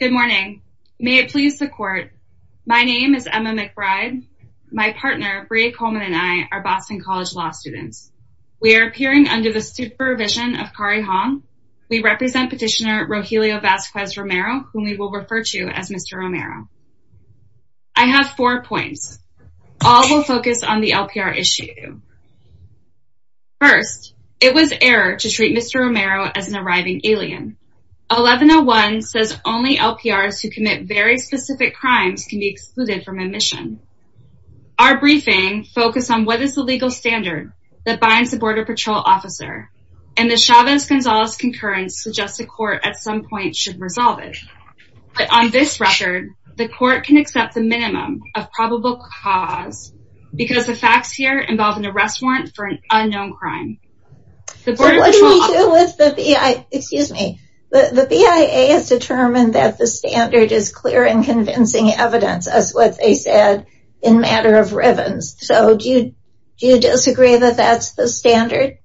Good morning. May it please the court. My name is Emma McBride. My partner Brea Coleman and I are Boston College law students. We are appearing under the supervision of Kari Hong. We represent petitioner Rogelio Vazquez Romero, whom we will refer to as Mr. Romero. I have four points. All will focus on the LPR issue. First, it was error to treat Mr. Romero as an arriving alien. 1101 says only LPRs who commit very specific crimes can be excluded from admission. Our briefing focused on what is the legal standard that binds the Border Patrol officer and the Chavez-Gonzalez concurrence suggests the court at some point should resolve it. But on this record, the court can accept the minimum of probable cause because the facts here involve an arrest warrant for an unknown crime. So what do we do with the BIA, excuse me, the BIA has determined that the standard is clear and convincing evidence as what they said in matter of ribbons. So do you disagree that that's the standard?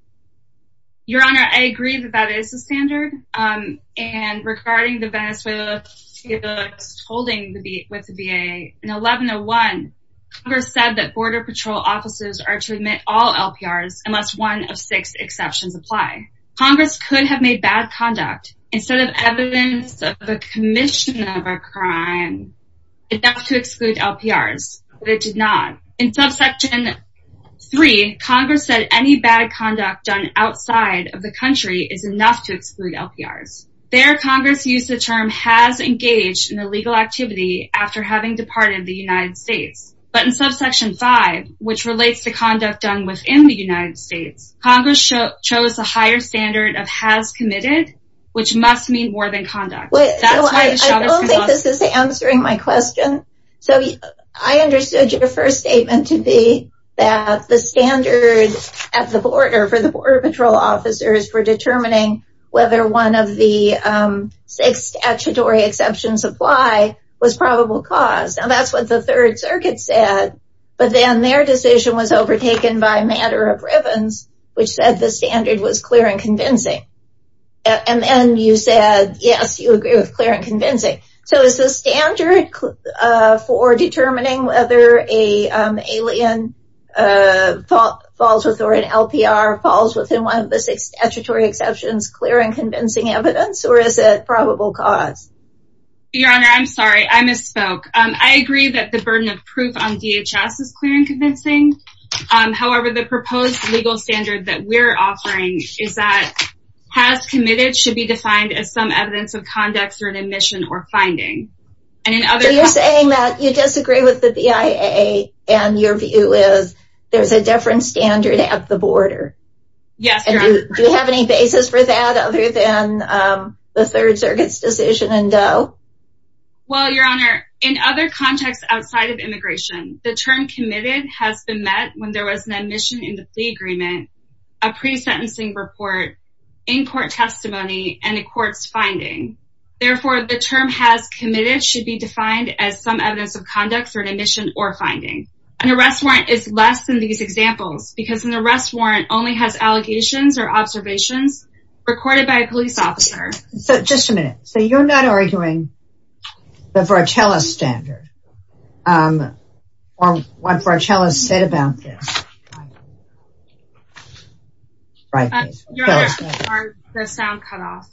Your Honor, I agree that that is the standard. And regarding the Venezuelans holding the BIA, in 1101, Congress said that Border Patrol officers are to admit all LPRs unless one of six exceptions apply. Congress could have made bad conduct instead of evidence of a commission of a crime enough to exclude LPRs, but it did not. In subsection 3, Congress said any bad conduct done outside of the country is enough to exclude LPRs. There, Congress used the term has engaged in illegal activity after having departed the United States. But in subsection 5, which relates to conduct done within the United States, Congress chose a higher standard of has committed, which must mean more than conduct. I don't think this is answering my question. So I understood your first statement to be that the standard at the border for the Border Patrol officers for determining whether one of the six statutory exceptions apply was probable cause. And that's what the Third Circuit said. But then their decision was overtaken by matter of ribbons, which said the standard was clear and convincing. And then you said, yes, you agree with clear and convincing. So is the standard for determining whether an alien falls with or an LPR falls within one of the six statutory exceptions clear and convincing evidence or is it probable cause? Your Honor, I'm sorry. I misspoke. I agree that the burden of proof on DHS is clear and convincing. However, the proposed legal standard that we're offering is that has committed should be defined as some evidence of conducts or an admission or finding. You're saying that you disagree with the BIA and your view is there's a different standard at the border. Do you have any basis for that other than the Third Circuit's decision in Doe? Well, Your Honor, in other contexts outside of immigration, the term committed has been met when there was an admission in the plea agreement, a pre-sentencing report, in-court testimony, and a court's finding. Therefore, the term has committed should be defined as some evidence of conducts or an admission or finding. An arrest warrant is less than these examples because an arrest warrant only has allegations or observations recorded by a police officer. So, just a minute. So, you're not arguing the Vartelis standard or what Vartelis said about this? Your Honor, the sound cut off.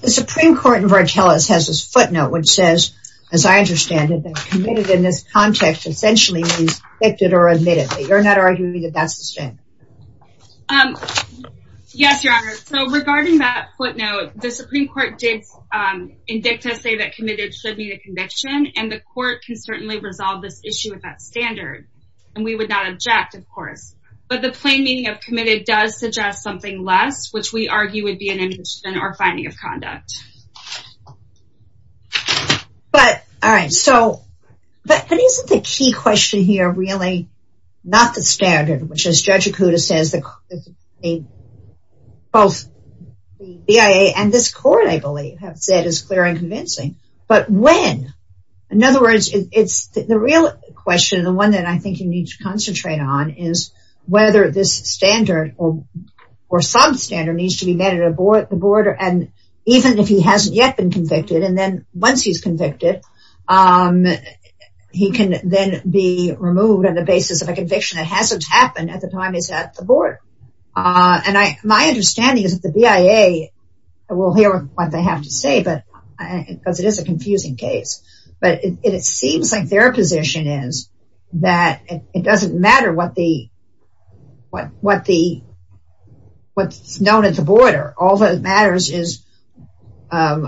The Supreme Court in Vartelis has this footnote which says, as I understand it, that committed in this context essentially means convicted or admitted. You're not arguing that that's the standard? Yes, Your Honor. So, regarding that footnote, the Supreme Court did in dicta say that committed should be the conviction and the court can certainly resolve this issue with that standard. And we would not object, of course. But the plain meaning of committed does suggest something less, which we argue would be an admission or finding of conduct. But, all right. So, but isn't the key question here really not the standard, which as Judge Acuda says, both the BIA and this court, I believe, have said is clear and convincing. But when? In other words, it's the real question, the one that I think you need to concentrate on is whether this standard or substandard needs to be met at the border. And even if he hasn't yet been convicted, and then once he's convicted, he can then be removed on the basis of a conviction that hasn't happened at the time he's at the board. And my understanding is that the BIA will hear what they have to say, because it is a confusing case. But it seems like their position is that it doesn't matter what the, what's known at the border. All that matters is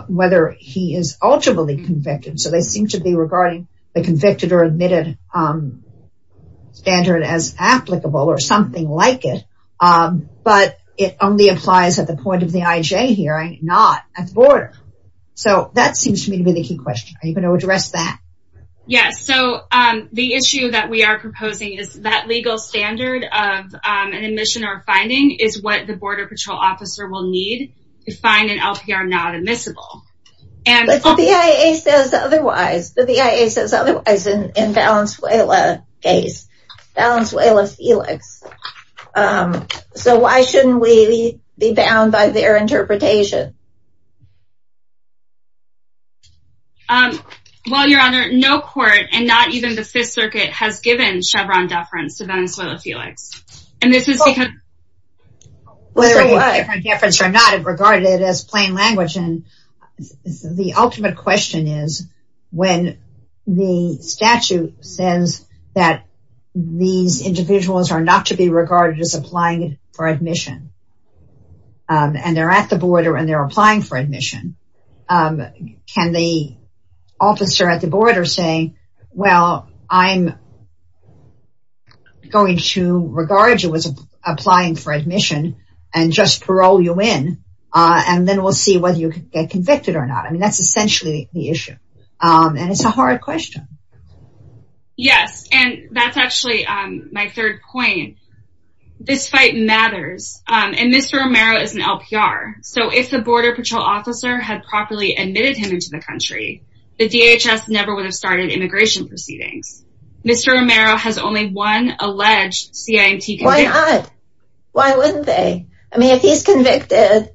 whether he is ultimately convicted. So they seem to be regarding the convicted or admitted standard as applicable or something like it. But it only applies at the point of the IJ hearing, not at the border. So that seems to me to be the key question. Are you going to address that? Yes. So the issue that we are proposing is that legal standard of an admission or finding is what the border patrol officer will need to find an LPR not admissible. But the BIA says otherwise. The BIA says otherwise in Valenzuela's case. Valenzuela-Felix. So why shouldn't we be bound by their interpretation? Well, Your Honor, no court and not even the Fifth Circuit has given Chevron deference to Venezuela-Felix. And this is because... When they're applying for admission, can the officer at the border say, well, I'm going to regard you as applying for admission and just parole you in. And then we'll see whether you get convicted or not. I mean, that's essentially the issue. And it's a hard question. Yes. And that's actually my third point. This fight matters. And Mr. Romero is an LPR. So if the border patrol officer had properly admitted him into the country, the DHS never would have started immigration proceedings. Mr. Romero has only one alleged CIMT conviction. Why wouldn't they? I mean, if he's convicted,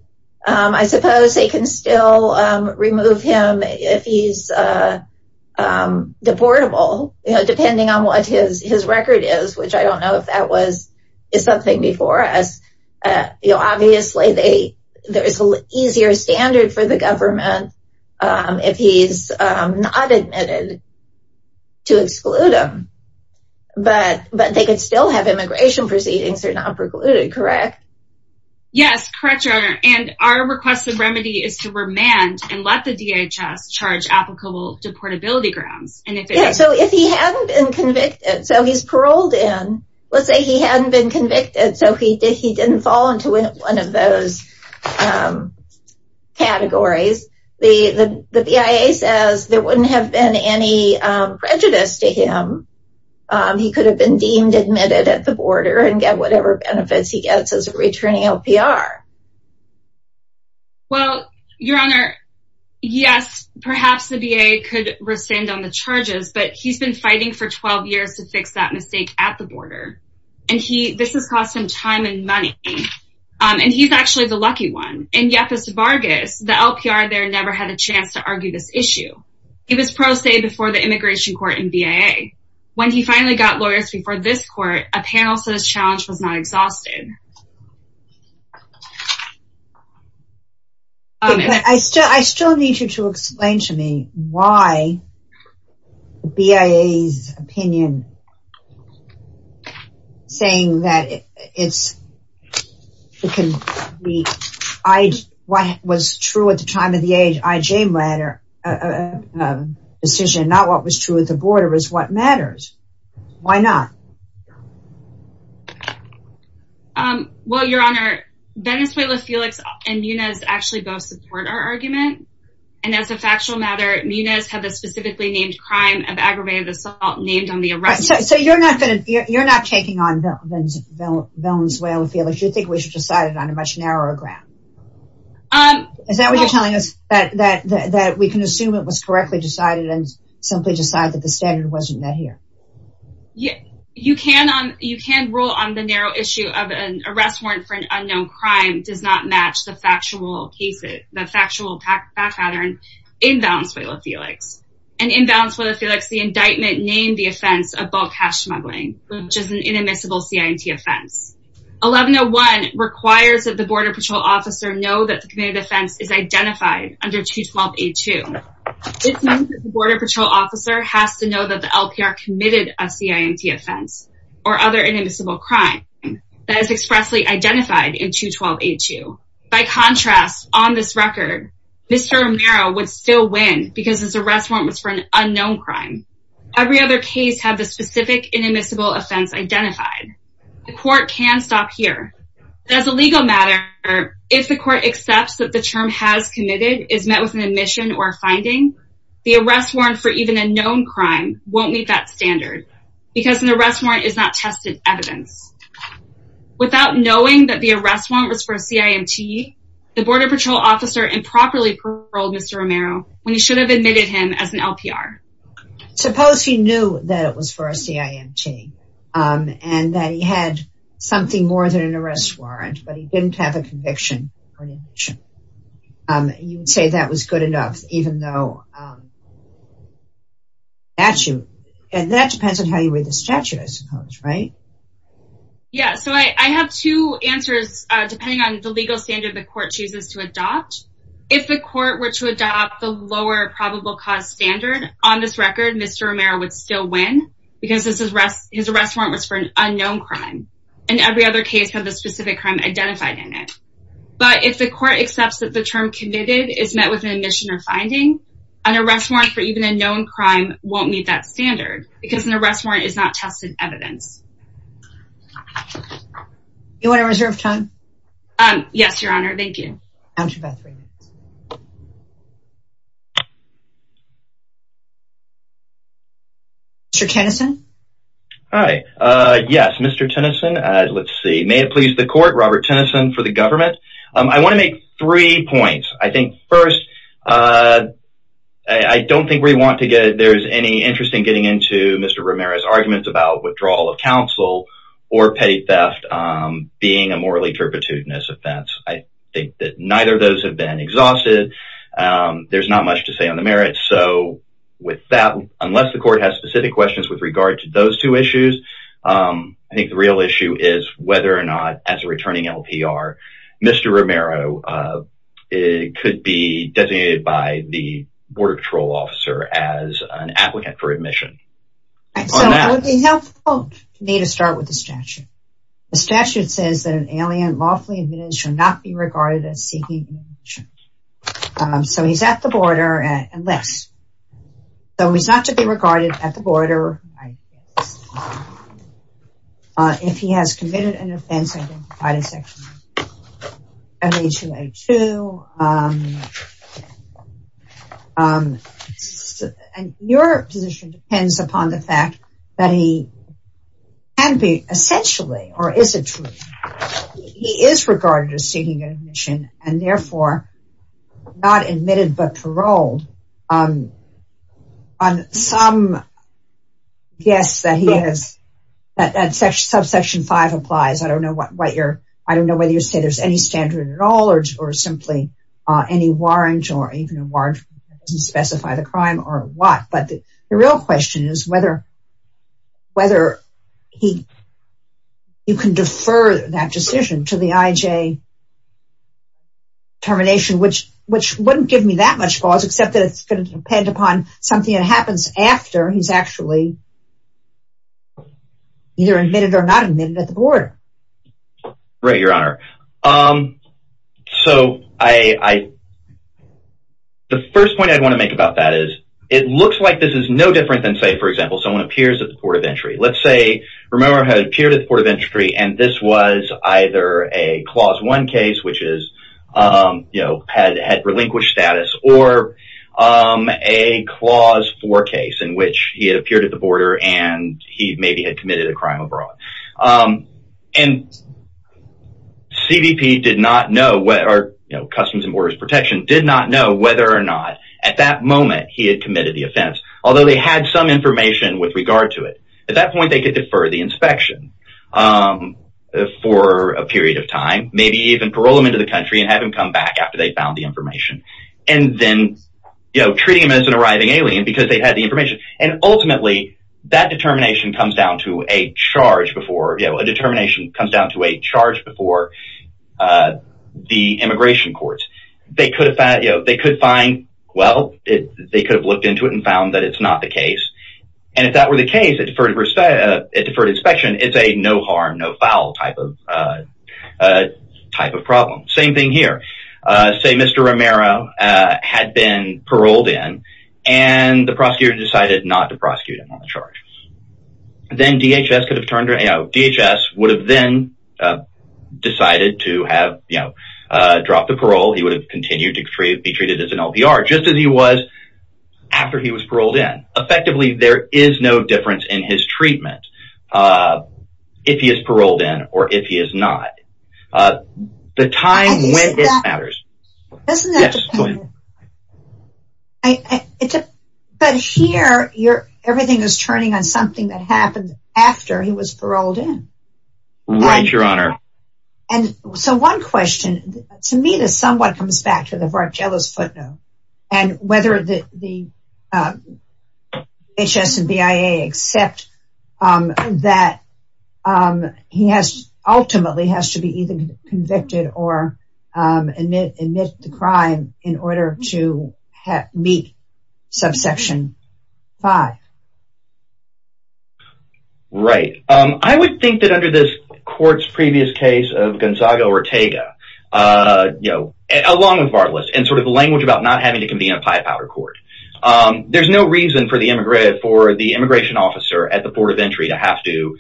I suppose they can still remove him if he's deportable, depending on what his record is, which I don't know if that was something before us. Obviously, there is an easier standard for the government if he's not admitted to exclude him. But they could still have immigration proceedings if they're not precluded, correct? Yes, correct, Your Honor. And our request of remedy is to remand and let the DHS charge applicable deportability grounds. So if he hadn't been convicted, so he's paroled in, let's say he hadn't been convicted. So he didn't fall into one of those categories. The BIA says there wouldn't have been any prejudice to him. He could have been deemed admitted at the border and get whatever benefits he gets as a returning LPR. Well, Your Honor, yes, perhaps the BIA could rescind on the charges, but he's been fighting for 12 years to fix that mistake at the border. And this has cost him time and money. And he's actually the lucky one. In Yepes-Vargas, the LPR there never had a chance to argue this issue. He was pro se before the immigration court and BIA. When he finally got lawyers before this court, a panel says challenge was not exhausted. I still I still need you to explain to me why BIA's opinion saying that it's what was true at the time of the IJ decision, not what was true at the border is what matters. Why not? Well, Your Honor, Venezuela Felix and Munez actually both support our argument. And as a factual matter, Munez had the specifically named crime of aggravated assault named on the arrest. So you're not going to you're not taking on the bones. Well, if you think we should decide it on a much narrower ground. Um, is that what you're telling us that that that we can assume it was correctly decided and simply decide that the standard wasn't met here? Yeah, you can on you can rule on the narrow issue of an arrest warrant for an unknown crime does not match the factual cases, the factual pattern in balance. And in balance for the Felix, the indictment named the offense of bulk hash smuggling, which is an inadmissible CIT offense. 1101 requires that the border patrol officer know that the committed offense is identified under to 1282. Border Patrol officer has to know that the LPR committed a CIT offense or other inadmissible crime that is expressly identified in to 1282. By contrast, on this record, Mr. Romero would still win because his arrest warrant was for an unknown crime. Every other case have the specific inadmissible offense identified. The court can stop here. As a legal matter, if the court accepts that the term has committed is met with an admission or finding the arrest warrant for even a known crime won't meet that standard, because an arrest warrant is not tested evidence. Without knowing that the arrest warrant was for a CIT, the border patrol officer improperly paroled Mr. Romero when he should have admitted him as an LPR. Suppose he knew that it was for a CIT and that he had something more than an arrest warrant, but he didn't have a conviction. You would say that was good enough, even though statute, and that depends on how you read the statute, I suppose, right? Yeah, so I have two answers, depending on the legal standard the court chooses to adopt. If the court were to adopt the lower probable cause standard, on this record, Mr. Romero would still win because his arrest warrant was for an unknown crime. And every other case have the specific crime identified in it. But if the court accepts that the term committed is met with an admission or finding, an arrest warrant for even a known crime won't meet that standard, because an arrest warrant is not tested evidence. You want to reserve time? Yes, Your Honor. Thank you. Mr. Tennyson? Hi. Yes, Mr. Tennyson. Let's see. May it please the court, Robert Tennyson for the government. I want to make three points. I think, first, I don't think there's any interest in getting into Mr. Romero's arguments about withdrawal of counsel or petty theft being a morally turpitudinous offense. I think that neither of those have been exhausted. There's not much to say on the merits. So, with that, unless the court has specific questions with regard to those two issues, I think the real issue is whether or not, as a returning LPR, Mr. Romero could be designated by the border patrol officer as an applicant for admission. So, it would be helpful to me to start with the statute. The statute says that an alien lawfully admitted should not be regarded as seeking admission. So, he's at the border, unless. So, he's not to be regarded at the border. If he has committed an offense, I would provide a section of M.A. 2.A. 2. And your position depends upon the fact that he can be essentially, or is a true, he is regarded as seeking admission and, therefore, not admitted but paroled on some guess that he has, that subsection 5 applies. I don't know whether you say there's any standard at all or simply any warrant or even a warrant that doesn't specify the crime or what. But the real question is whether you can defer that decision to the IJ termination, which wouldn't give me that much cause, except that it's going to depend upon something that happens after he's actually either admitted or not admitted at the border. And he maybe had committed a crime abroad. And CBP did not know, or Customs and Borders Protection, did not know whether or not, at that moment, he had committed the offense, although they had some information with regard to it. At that point, they could defer the inspection for a period of time, maybe even parole him into the country and have him come back after they found the information. And then, you know, treating him as an arriving alien because they had the information. And ultimately, that determination comes down to a charge before, you know, a determination comes down to a charge before the immigration courts. They could find, well, they could have looked into it and found that it's not the case. And if that were the case, a deferred inspection, it's a no harm, no foul type of problem. Same thing here. Say Mr. Romero had been paroled in and the prosecutor decided not to prosecute him on the charge. Then DHS could have turned, you know, DHS would have then decided to have, you know, dropped the parole. He would have continued to be treated as an LPR, just as he was after he was paroled in. Effectively, there is no difference in his treatment if he is paroled in or if he is not. The time when it matters. But here, everything is turning on something that happened after he was paroled in. Right, Your Honor. So, one question. To me, this somewhat comes back to the Vartiello's footnote and whether the DHS and BIA accept that he ultimately has to be either convicted or admit the crime in order to meet subsection 5. Right. I would think that under this court's previous case of Gonzaga-Ortega, you know, along with Vartelis and sort of the language about not having to convene a high power court, there's no reason for the immigration officer at the port of entry to have to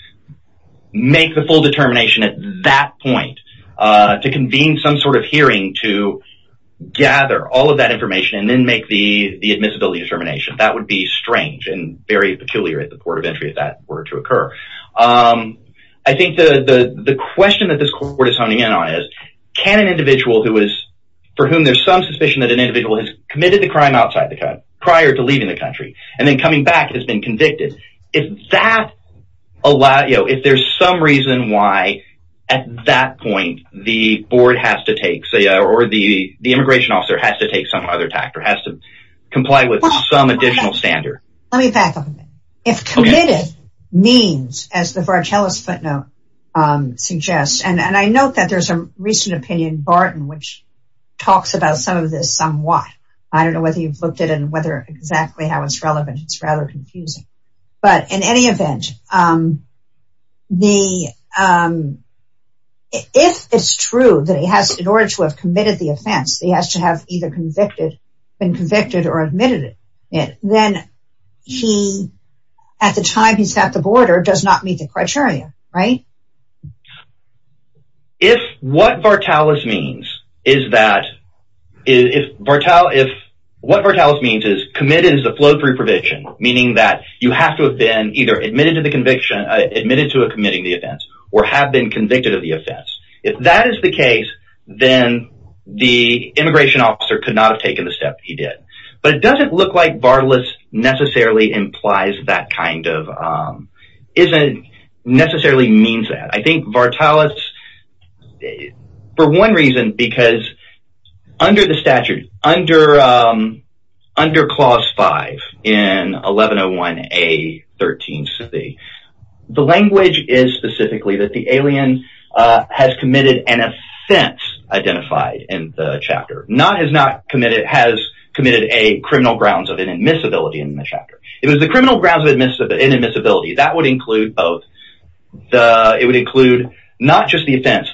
make the full determination at that point to convene some sort of hearing to gather all of that information and then make the admissibility determination. That would be strange and very peculiar at the port of entry if that were to occur. I think the question that this court is honing in on is, can an individual for whom there's some suspicion that an individual has committed the crime outside the country prior to leaving the country and then coming back has been convicted. If there's some reason why at that point the board has to take or the immigration officer has to take some other tact or has to comply with some additional standard. Let me back up a minute. If committed means, as the Vartelis footnote suggests, and I note that there's a recent opinion, Barton, which talks about some of this somewhat, I don't know whether you've looked at it and whether exactly how it's relevant, it's rather confusing. But in any event, if it's true that he has, in order to have committed the offense, he has to have either been convicted or admitted it, then he, at the time he's at the border, does not meet the criteria, right? If what Vartelis means is that, if what Vartelis means is committed is the flow-through provision, meaning that you have to have been either admitted to the conviction, admitted to committing the offense, or have been convicted of the offense. If that is the case, then the immigration officer could not have taken the step he did. But it doesn't look like Vartelis necessarily implies that kind of, necessarily means that. I think Vartelis, for one reason, because under the statute, under clause 5 in 1101A.13c, the language is specifically that the alien has committed an offense identified in the chapter. Not has not committed, has committed a criminal grounds of inadmissibility in the chapter. If it was the criminal grounds of inadmissibility, that would include both, it would include not just the offense,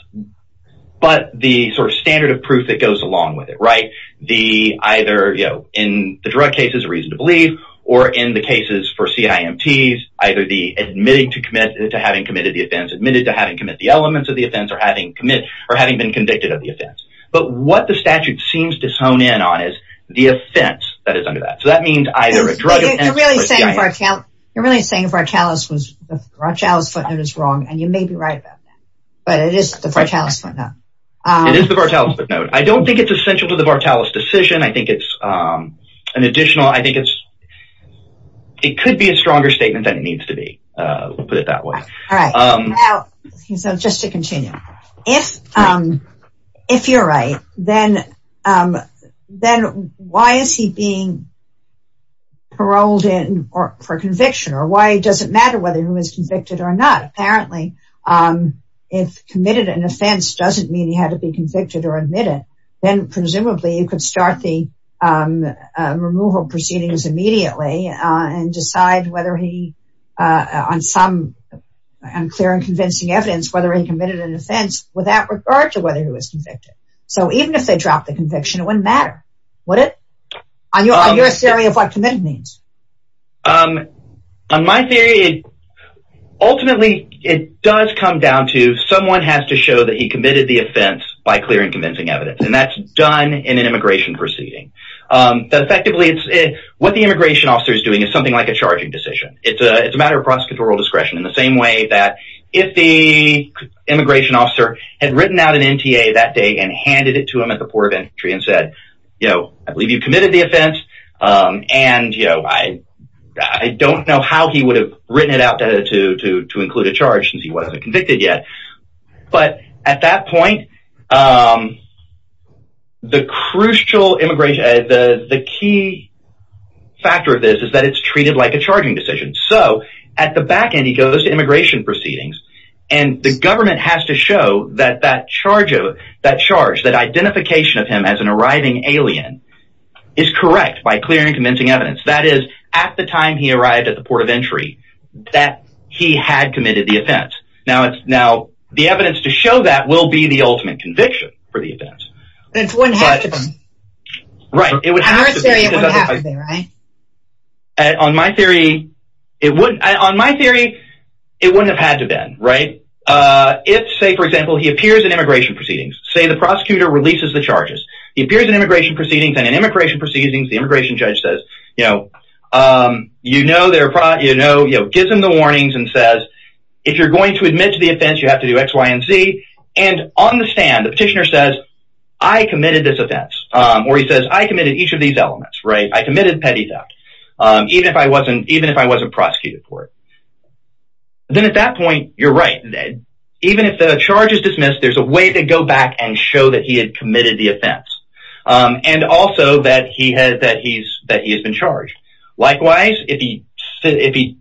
but the sort of standard of proof that goes along with it, right? The, either, you know, in the drug cases, a reason to believe, or in the cases for CIMTs, either the admitting to committing, to having committed the offense, admitted to having committed the elements of the offense, or having committed, or having been convicted of the offense. But what the statute seems to hone in on is the offense that is under that. So that means either a drug offense or a CIMT. You're really saying Vartelis was, Vartelis footnote is wrong, and you may be right about that. But it is the Vartelis footnote. It is the Vartelis footnote. I don't think it's essential to the Vartelis decision. I think it's an additional, I think it's, it could be a stronger statement than it needs to be. We'll put it that way. All right. So just to continue. If, if you're right, then, then why is he being paroled in for conviction? Or why does it matter whether he was convicted or not? Because apparently, if committed an offense doesn't mean he had to be convicted or admitted, then presumably you could start the removal proceedings immediately and decide whether he, on some unclear and convincing evidence, whether he committed an offense without regard to whether he was convicted. So even if they dropped the conviction, it wouldn't matter, would it? On your theory of what committed means. On my theory, ultimately, it does come down to someone has to show that he committed the offense by clear and convincing evidence. And that's done in an immigration proceeding. What the immigration officer is doing is something like a charging decision. It's a matter of prosecutorial discretion in the same way that if the immigration officer had written out an NTA that day and handed it to him at the port of entry and said, you know, I believe you committed the offense. And, you know, I don't know how he would have written it out to include a charge since he wasn't convicted yet. But at that point, the crucial immigration, the key factor of this is that it's treated like a charging decision. So at the back end, he goes to immigration proceedings and the government has to show that that charge of that charge, that identification of him as an arriving alien is correct by clear and convincing evidence. That is, at the time he arrived at the port of entry, that he had committed the offense. Now it's now the evidence to show that will be the ultimate conviction for the event. Right. On my theory, it wouldn't on my theory, it wouldn't have had to been right. If, say, for example, he appears in immigration proceedings, say the prosecutor releases the charges, he appears in immigration proceedings and in immigration proceedings, the immigration judge says, you know, you know, you know, you know, gives him the warnings and says, if you're going to admit to the offense, you have to do X, Y and Z. And on the stand, the petitioner says, I committed this offense or he says, I committed each of these elements. Right. I committed petty theft, even if I wasn't even if I wasn't prosecuted for it. Then at that point, you're right. Even if the charge is dismissed, there's a way to go back and show that he had committed the offense and also that he has that he's that he has been charged. Likewise, if he if he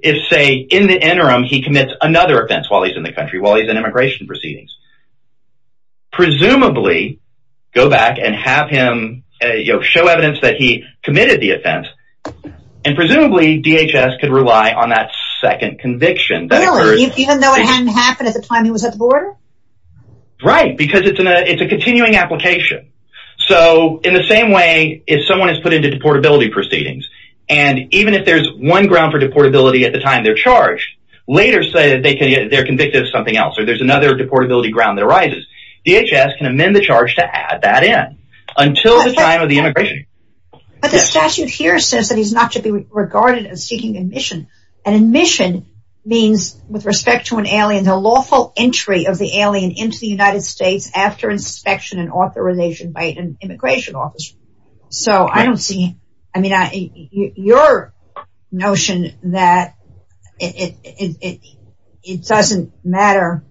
is, say, in the interim, he commits another offense while he's in the country, while he's in immigration proceedings. Presumably, go back and have him show evidence that he committed the offense and presumably DHS could rely on that second conviction that even though it hadn't happened at the time he was at the border. Right, because it's a it's a continuing application. So in the same way, if someone is put into deportability proceedings, and even if there's one ground for deportability at the time, they're charged later so that they can get their convicted of something else or there's another deportability ground that arises. DHS can amend the charge to add that in until the time of the immigration. But the statute here says that he's not to be regarded as seeking admission and admission means with respect to an alien, the lawful entry of the alien into the United States after inspection and authorization by an immigration office. So I don't see. I mean, your notion that it doesn't matter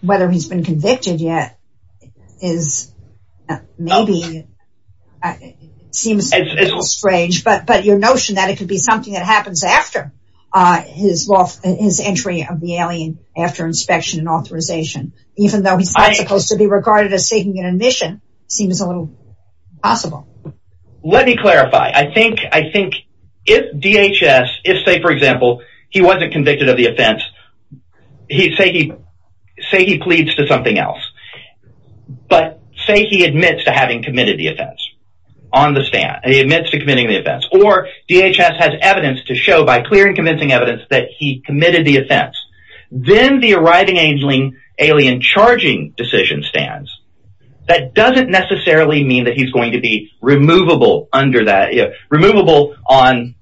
whether he's been convicted yet is maybe seems a little strange, but but your notion that it could be something that happens after his law, his entry of the alien after inspection and authorization, even though he's supposed to be regarded as seeking an admission seems a little Let me clarify. I think I think if DHS, if, say, for example, he wasn't convicted of the offense, he say he say he pleads to something else. But say he admits to having committed the offense on the stand. He admits to committing the offense or DHS has evidence to show by clear and convincing evidence that he committed the offense. Then the arriving angling alien charging decision stands. That doesn't necessarily mean that he's going to be removable under that removable on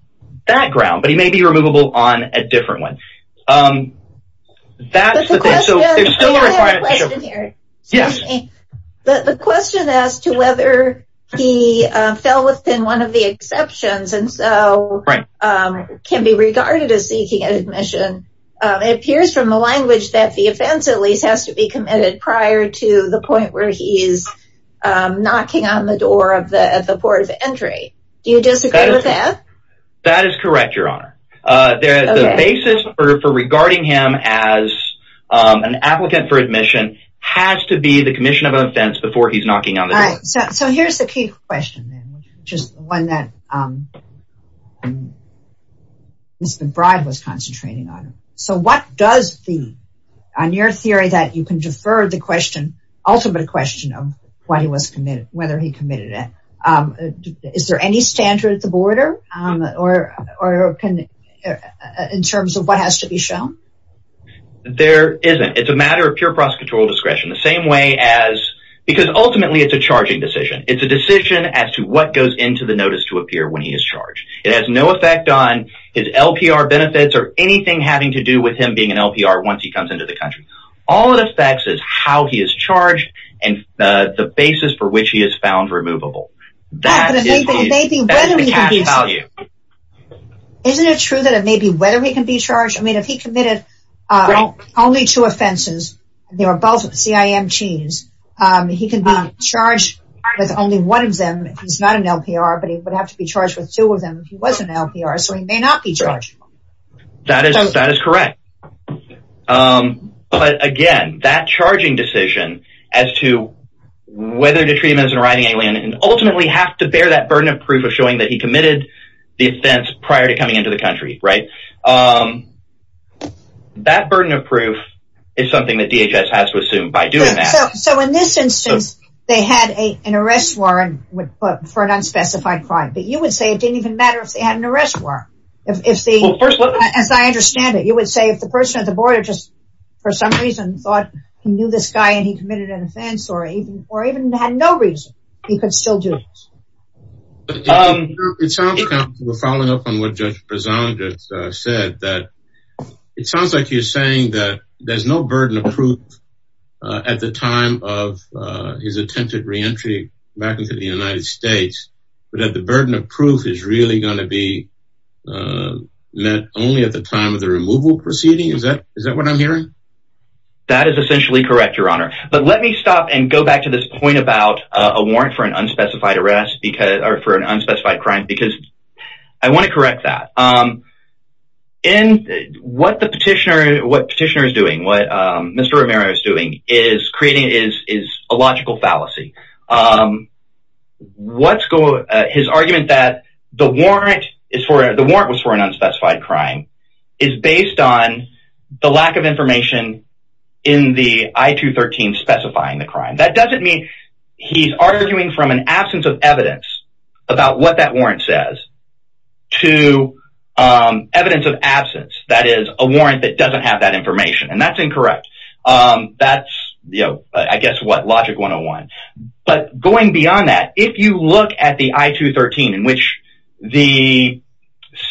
that ground, but he may be removable on a different one. That's the question here. Yes. But the question as to whether he fell within one of the exceptions and so can be regarded as seeking admission appears from the language that the offense at least has to be committed prior to the point where he is knocking on the door of the port of entry. Do you disagree with that? That is correct, Your Honor. There is a basis for regarding him as an applicant for admission has to be the commission of offense before he's knocking on the door. So here's the key question, which is one that Mr. Bride was concentrating on. So what does the on your theory that you can defer the question ultimate question of what he was committed, whether he committed it? Is there any standard at the border or in terms of what has to be shown? There isn't. It's a matter of pure prosecutorial discretion the same way as because ultimately it's a charging decision. It's a decision as to what goes into the notice to appear when he is charged. It has no effect on his LPR benefits or anything having to do with him being an LPR once he comes into the country. All it affects is how he is charged and the basis for which he is found removable. Isn't it true that it may be whether he can be charged? I mean, if he committed only two offenses, they were both CIMTs. He can be charged with only one of them. He's not an LPR, but he would have to be charged with two of them. He was an LPR, so he may not be charged. That is correct. But again, that charging decision as to whether to treat him as an arriving alien and ultimately have to bear that burden of proof of showing that he committed the offense prior to coming into the country. Right. That burden of proof is something that DHS has to assume by doing that. So in this instance, they had an arrest warrant for an unspecified crime, but you would say it didn't even matter if they had an arrest warrant. As I understand it, you would say if the person at the border just for some reason thought he knew this guy and he committed an offense or even had no reason, he could still do it. It sounds like you're saying that there's no burden of proof at the time of his attempted reentry back into the United States, but that the burden of proof is really going to be met only at the time of the removal proceeding. Is that what I'm hearing? That is essentially correct, Your Honor. But let me stop and go back to this point about a warrant for an unspecified arrest or for an unspecified crime, because I want to correct that. What the petitioner is doing, what Mr. Romero is doing, is creating a logical fallacy. His argument that the warrant was for an unspecified crime is based on the lack of information in the I-213 specifying the crime. That doesn't mean he's arguing from an absence of evidence about what that warrant says to evidence of absence, that is, a warrant that doesn't have that information, and that's incorrect. That's, you know, I guess what, logic 101. But going beyond that, if you look at the I-213 in which the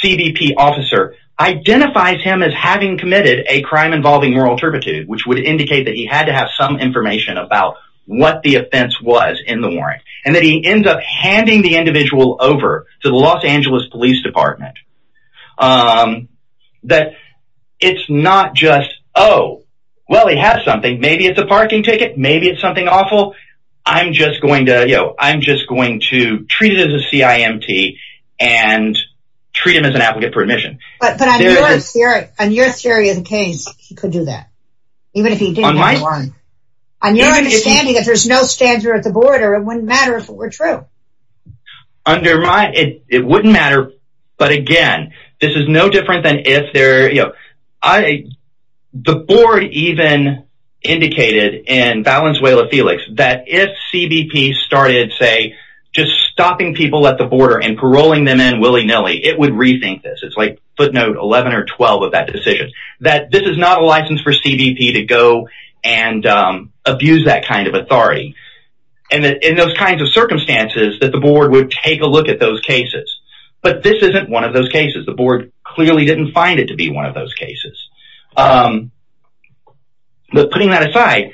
CBP officer identifies him as having committed a crime involving moral turpitude, which would indicate that he had to have some information about what the offense was in the warrant, and that he ends up handing the individual over to the Los Angeles Police Department, that it's not just, oh, well, he has something, maybe it's a parking ticket, maybe it's something awful, I'm just going to, you know, I'm just going to treat it as a CIMT and treat him as an applicant for admission. But on your theory of the case, he could do that, even if he didn't have a warrant. On your understanding, if there's no stanza at the border, it wouldn't matter if it were true. It wouldn't matter, but again, this is no different than if there, you know, the board even indicated in Valenzuela Felix that if CBP started, say, just stopping people at the border and paroling them in willy-nilly, it would rethink this. It's like footnote 11 or 12 of that decision, that this is not a license for CBP to go and abuse that kind of authority. And in those kinds of circumstances, that the board would take a look at those cases. But this isn't one of those cases. The board clearly didn't find it to be one of those cases. But putting that aside,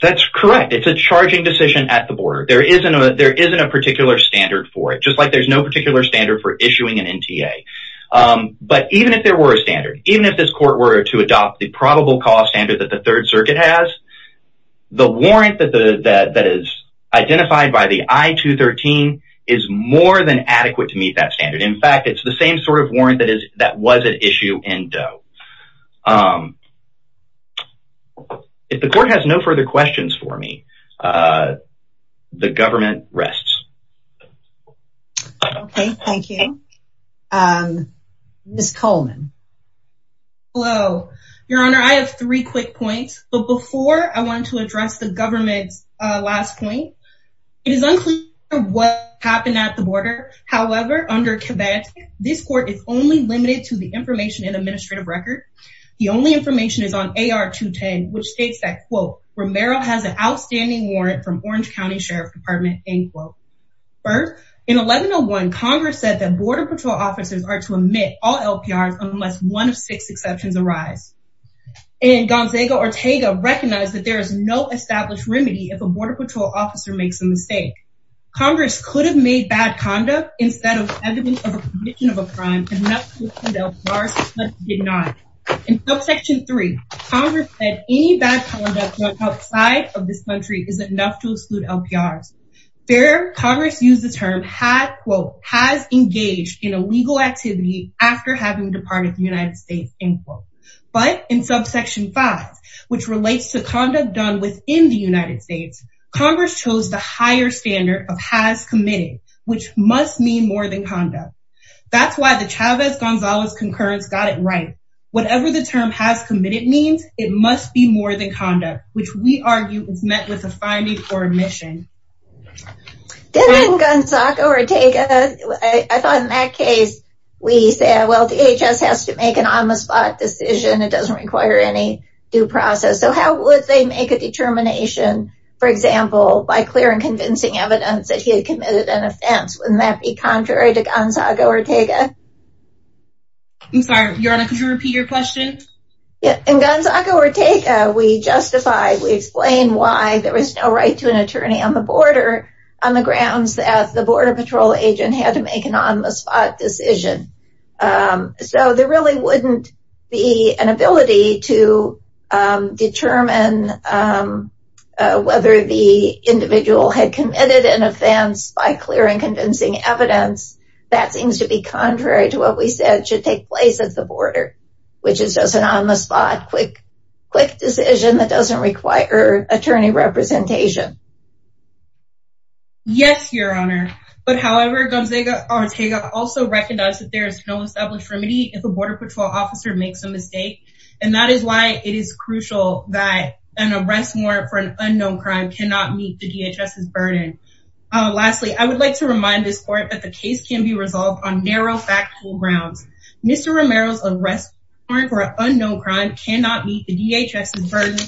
that's correct. It's a charging decision at the border. There isn't a particular standard for it, just like there's no particular standard for issuing an NTA. But even if there were a standard, even if this court were to adopt the probable cause standard that the Third Circuit has, the warrant that is identified by the I-213 is more than adequate to meet that standard. In fact, it's the same sort of warrant that was at issue in Doe. If the court has no further questions for me, the government rests. Okay, thank you. Ms. Coleman. Hello, Your Honor. I have three quick points. But before I wanted to address the government's last point, it is unclear what happened at the border. However, under Kibet, this court is only limited to the information and administrative record. The only information is on AR-210, which states that, quote, Romero has an outstanding warrant from Orange County Sheriff's Department, end quote. First, in 1101, Congress said that Border Patrol officers are to omit all LPRs unless one of six exceptions arise. And Gonzaga-Ortega recognized that there is no established remedy if a Border Patrol officer makes a mistake. Congress could have made bad conduct instead of evidence of a conviction of a crime, enough to exclude LPRs, but it did not. In subsection 3, Congress said any bad conduct done outside of this country is enough to exclude LPRs. There, Congress used the term, quote, has engaged in a legal activity after having departed the United States, end quote. But in subsection 5, which relates to conduct done within the United States, Congress chose the higher standard of has committed, which must mean more than conduct. That's why the Chavez-Gonzalez concurrence got it right. Whatever the term has committed means, it must be more than conduct, which we argue is met with a finding or admission. Then in Gonzaga-Ortega, I thought in that case, we said, well, DHS has to make an on-the-spot decision. It doesn't require any due process. So how would they make a determination, for example, by clear and convincing evidence that he had committed an offense? Wouldn't that be contrary to Gonzaga-Ortega? I'm sorry, Your Honor, could you repeat your question? In Gonzaga-Ortega, we justify, we explain why there was no right to an attorney on the border on the grounds that the Border Patrol agent had to make an on-the-spot decision. So there really wouldn't be an ability to determine whether the individual had committed an offense by clear and convincing evidence. That seems to be contrary to what we said should take place at the border, which is just an on-the-spot, quick decision that doesn't require attorney representation. Yes, Your Honor. But however, Gonzaga-Ortega also recognized that there is no established remedy if a Border Patrol officer makes a mistake. And that is why it is crucial that an arrest warrant for an unknown crime cannot meet the DHS's burden. Lastly, I would like to remind this court that the case can be resolved on narrow factual grounds. Mr. Romero's arrest warrant for an unknown crime cannot meet the DHS's burden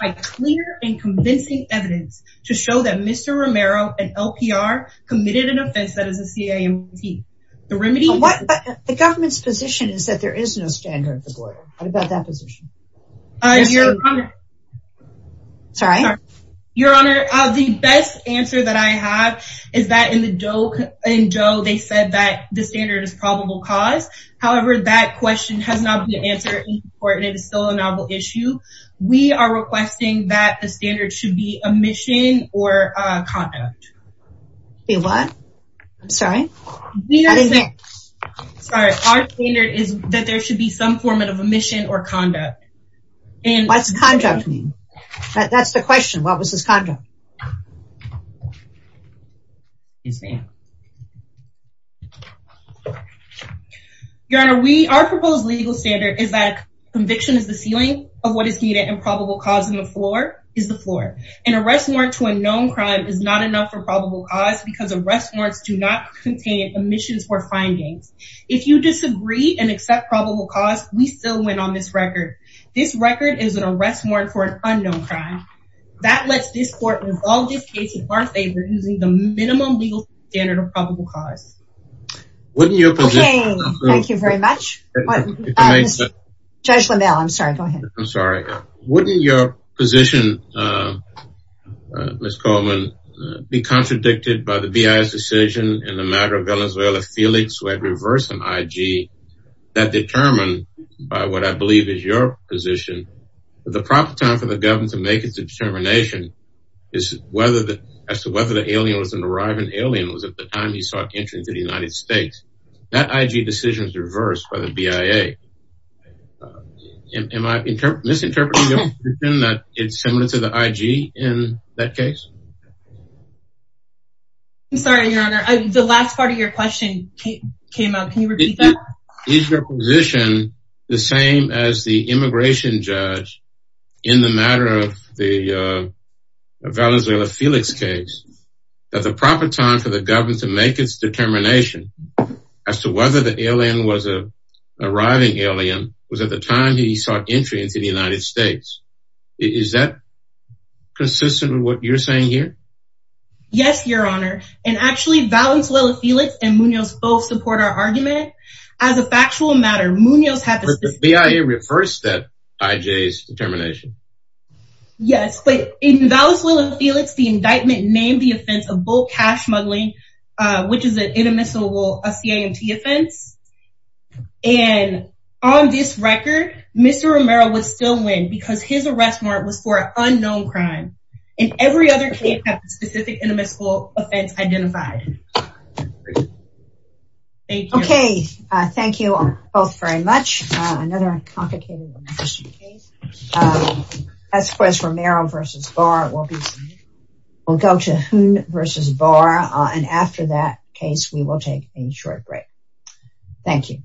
by clear and convincing evidence to show that Mr. Romero, an LPR, committed an offense that is a CAMT. The government's position is that there is no standard at the border. What about that position? Sorry? Your Honor, the best answer that I have is that in the DOE, they said that the standard is probable cause. However, that question has not been answered in court, and it is still a novel issue. We are requesting that the standard should be omission or conduct. Say what? I'm sorry? Sorry, our standard is that there should be some form of omission or conduct. What does conduct mean? That's the question. What was his conduct? Your Honor, our proposed legal standard is that conviction is the ceiling of what is needed, and probable cause is the floor. An arrest warrant to an unknown crime is not enough for probable cause because arrest warrants do not contain omissions or findings. If you disagree and accept probable cause, we still win on this record. This record is an arrest warrant for an unknown crime. That lets this court resolve this case in our favor using the minimum legal standard of probable cause. Okay, thank you very much. Judge LaMalle, I'm sorry, go ahead. I'm sorry. Wouldn't your position, Ms. Coleman, be contradicted by the BIA's decision in the matter of Venezuela Felix who had reversed an IG that determined by what I believe is your position that the proper time for the government to make its determination as to whether the alien was an arriving alien was at the time he sought entry into the United States. That IG decision was reversed by the BIA. Am I misinterpreting your position that it's similar to the IG in that case? I'm sorry, Your Honor. The last part of your question came up. Can you repeat that? Is your position the same as the immigration judge in the matter of the Venezuela Felix case that the proper time for the government to make its determination as to whether the alien was an arriving alien was at the time he sought entry into the United States? Is that consistent with what you're saying here? Yes, Your Honor. And actually, Venezuela Felix and Munoz both support our argument. As a factual matter, Munoz had the... But the BIA reversed that IG's determination. Yes, but in Venezuela Felix, the indictment named the offense of bulk cash smuggling, which is an inadmissible CIMT offense. And on this record, Mr. Romero would still win because his arrest warrant was for an unknown crime. And every other case has a specific inadmissible offense identified. Thank you. Okay. Thank you both very much. Another complicated immigration case. Esquez Romero v. Barr will go to Huynh v. Barr. And after that case, we will take a short break. Thank you.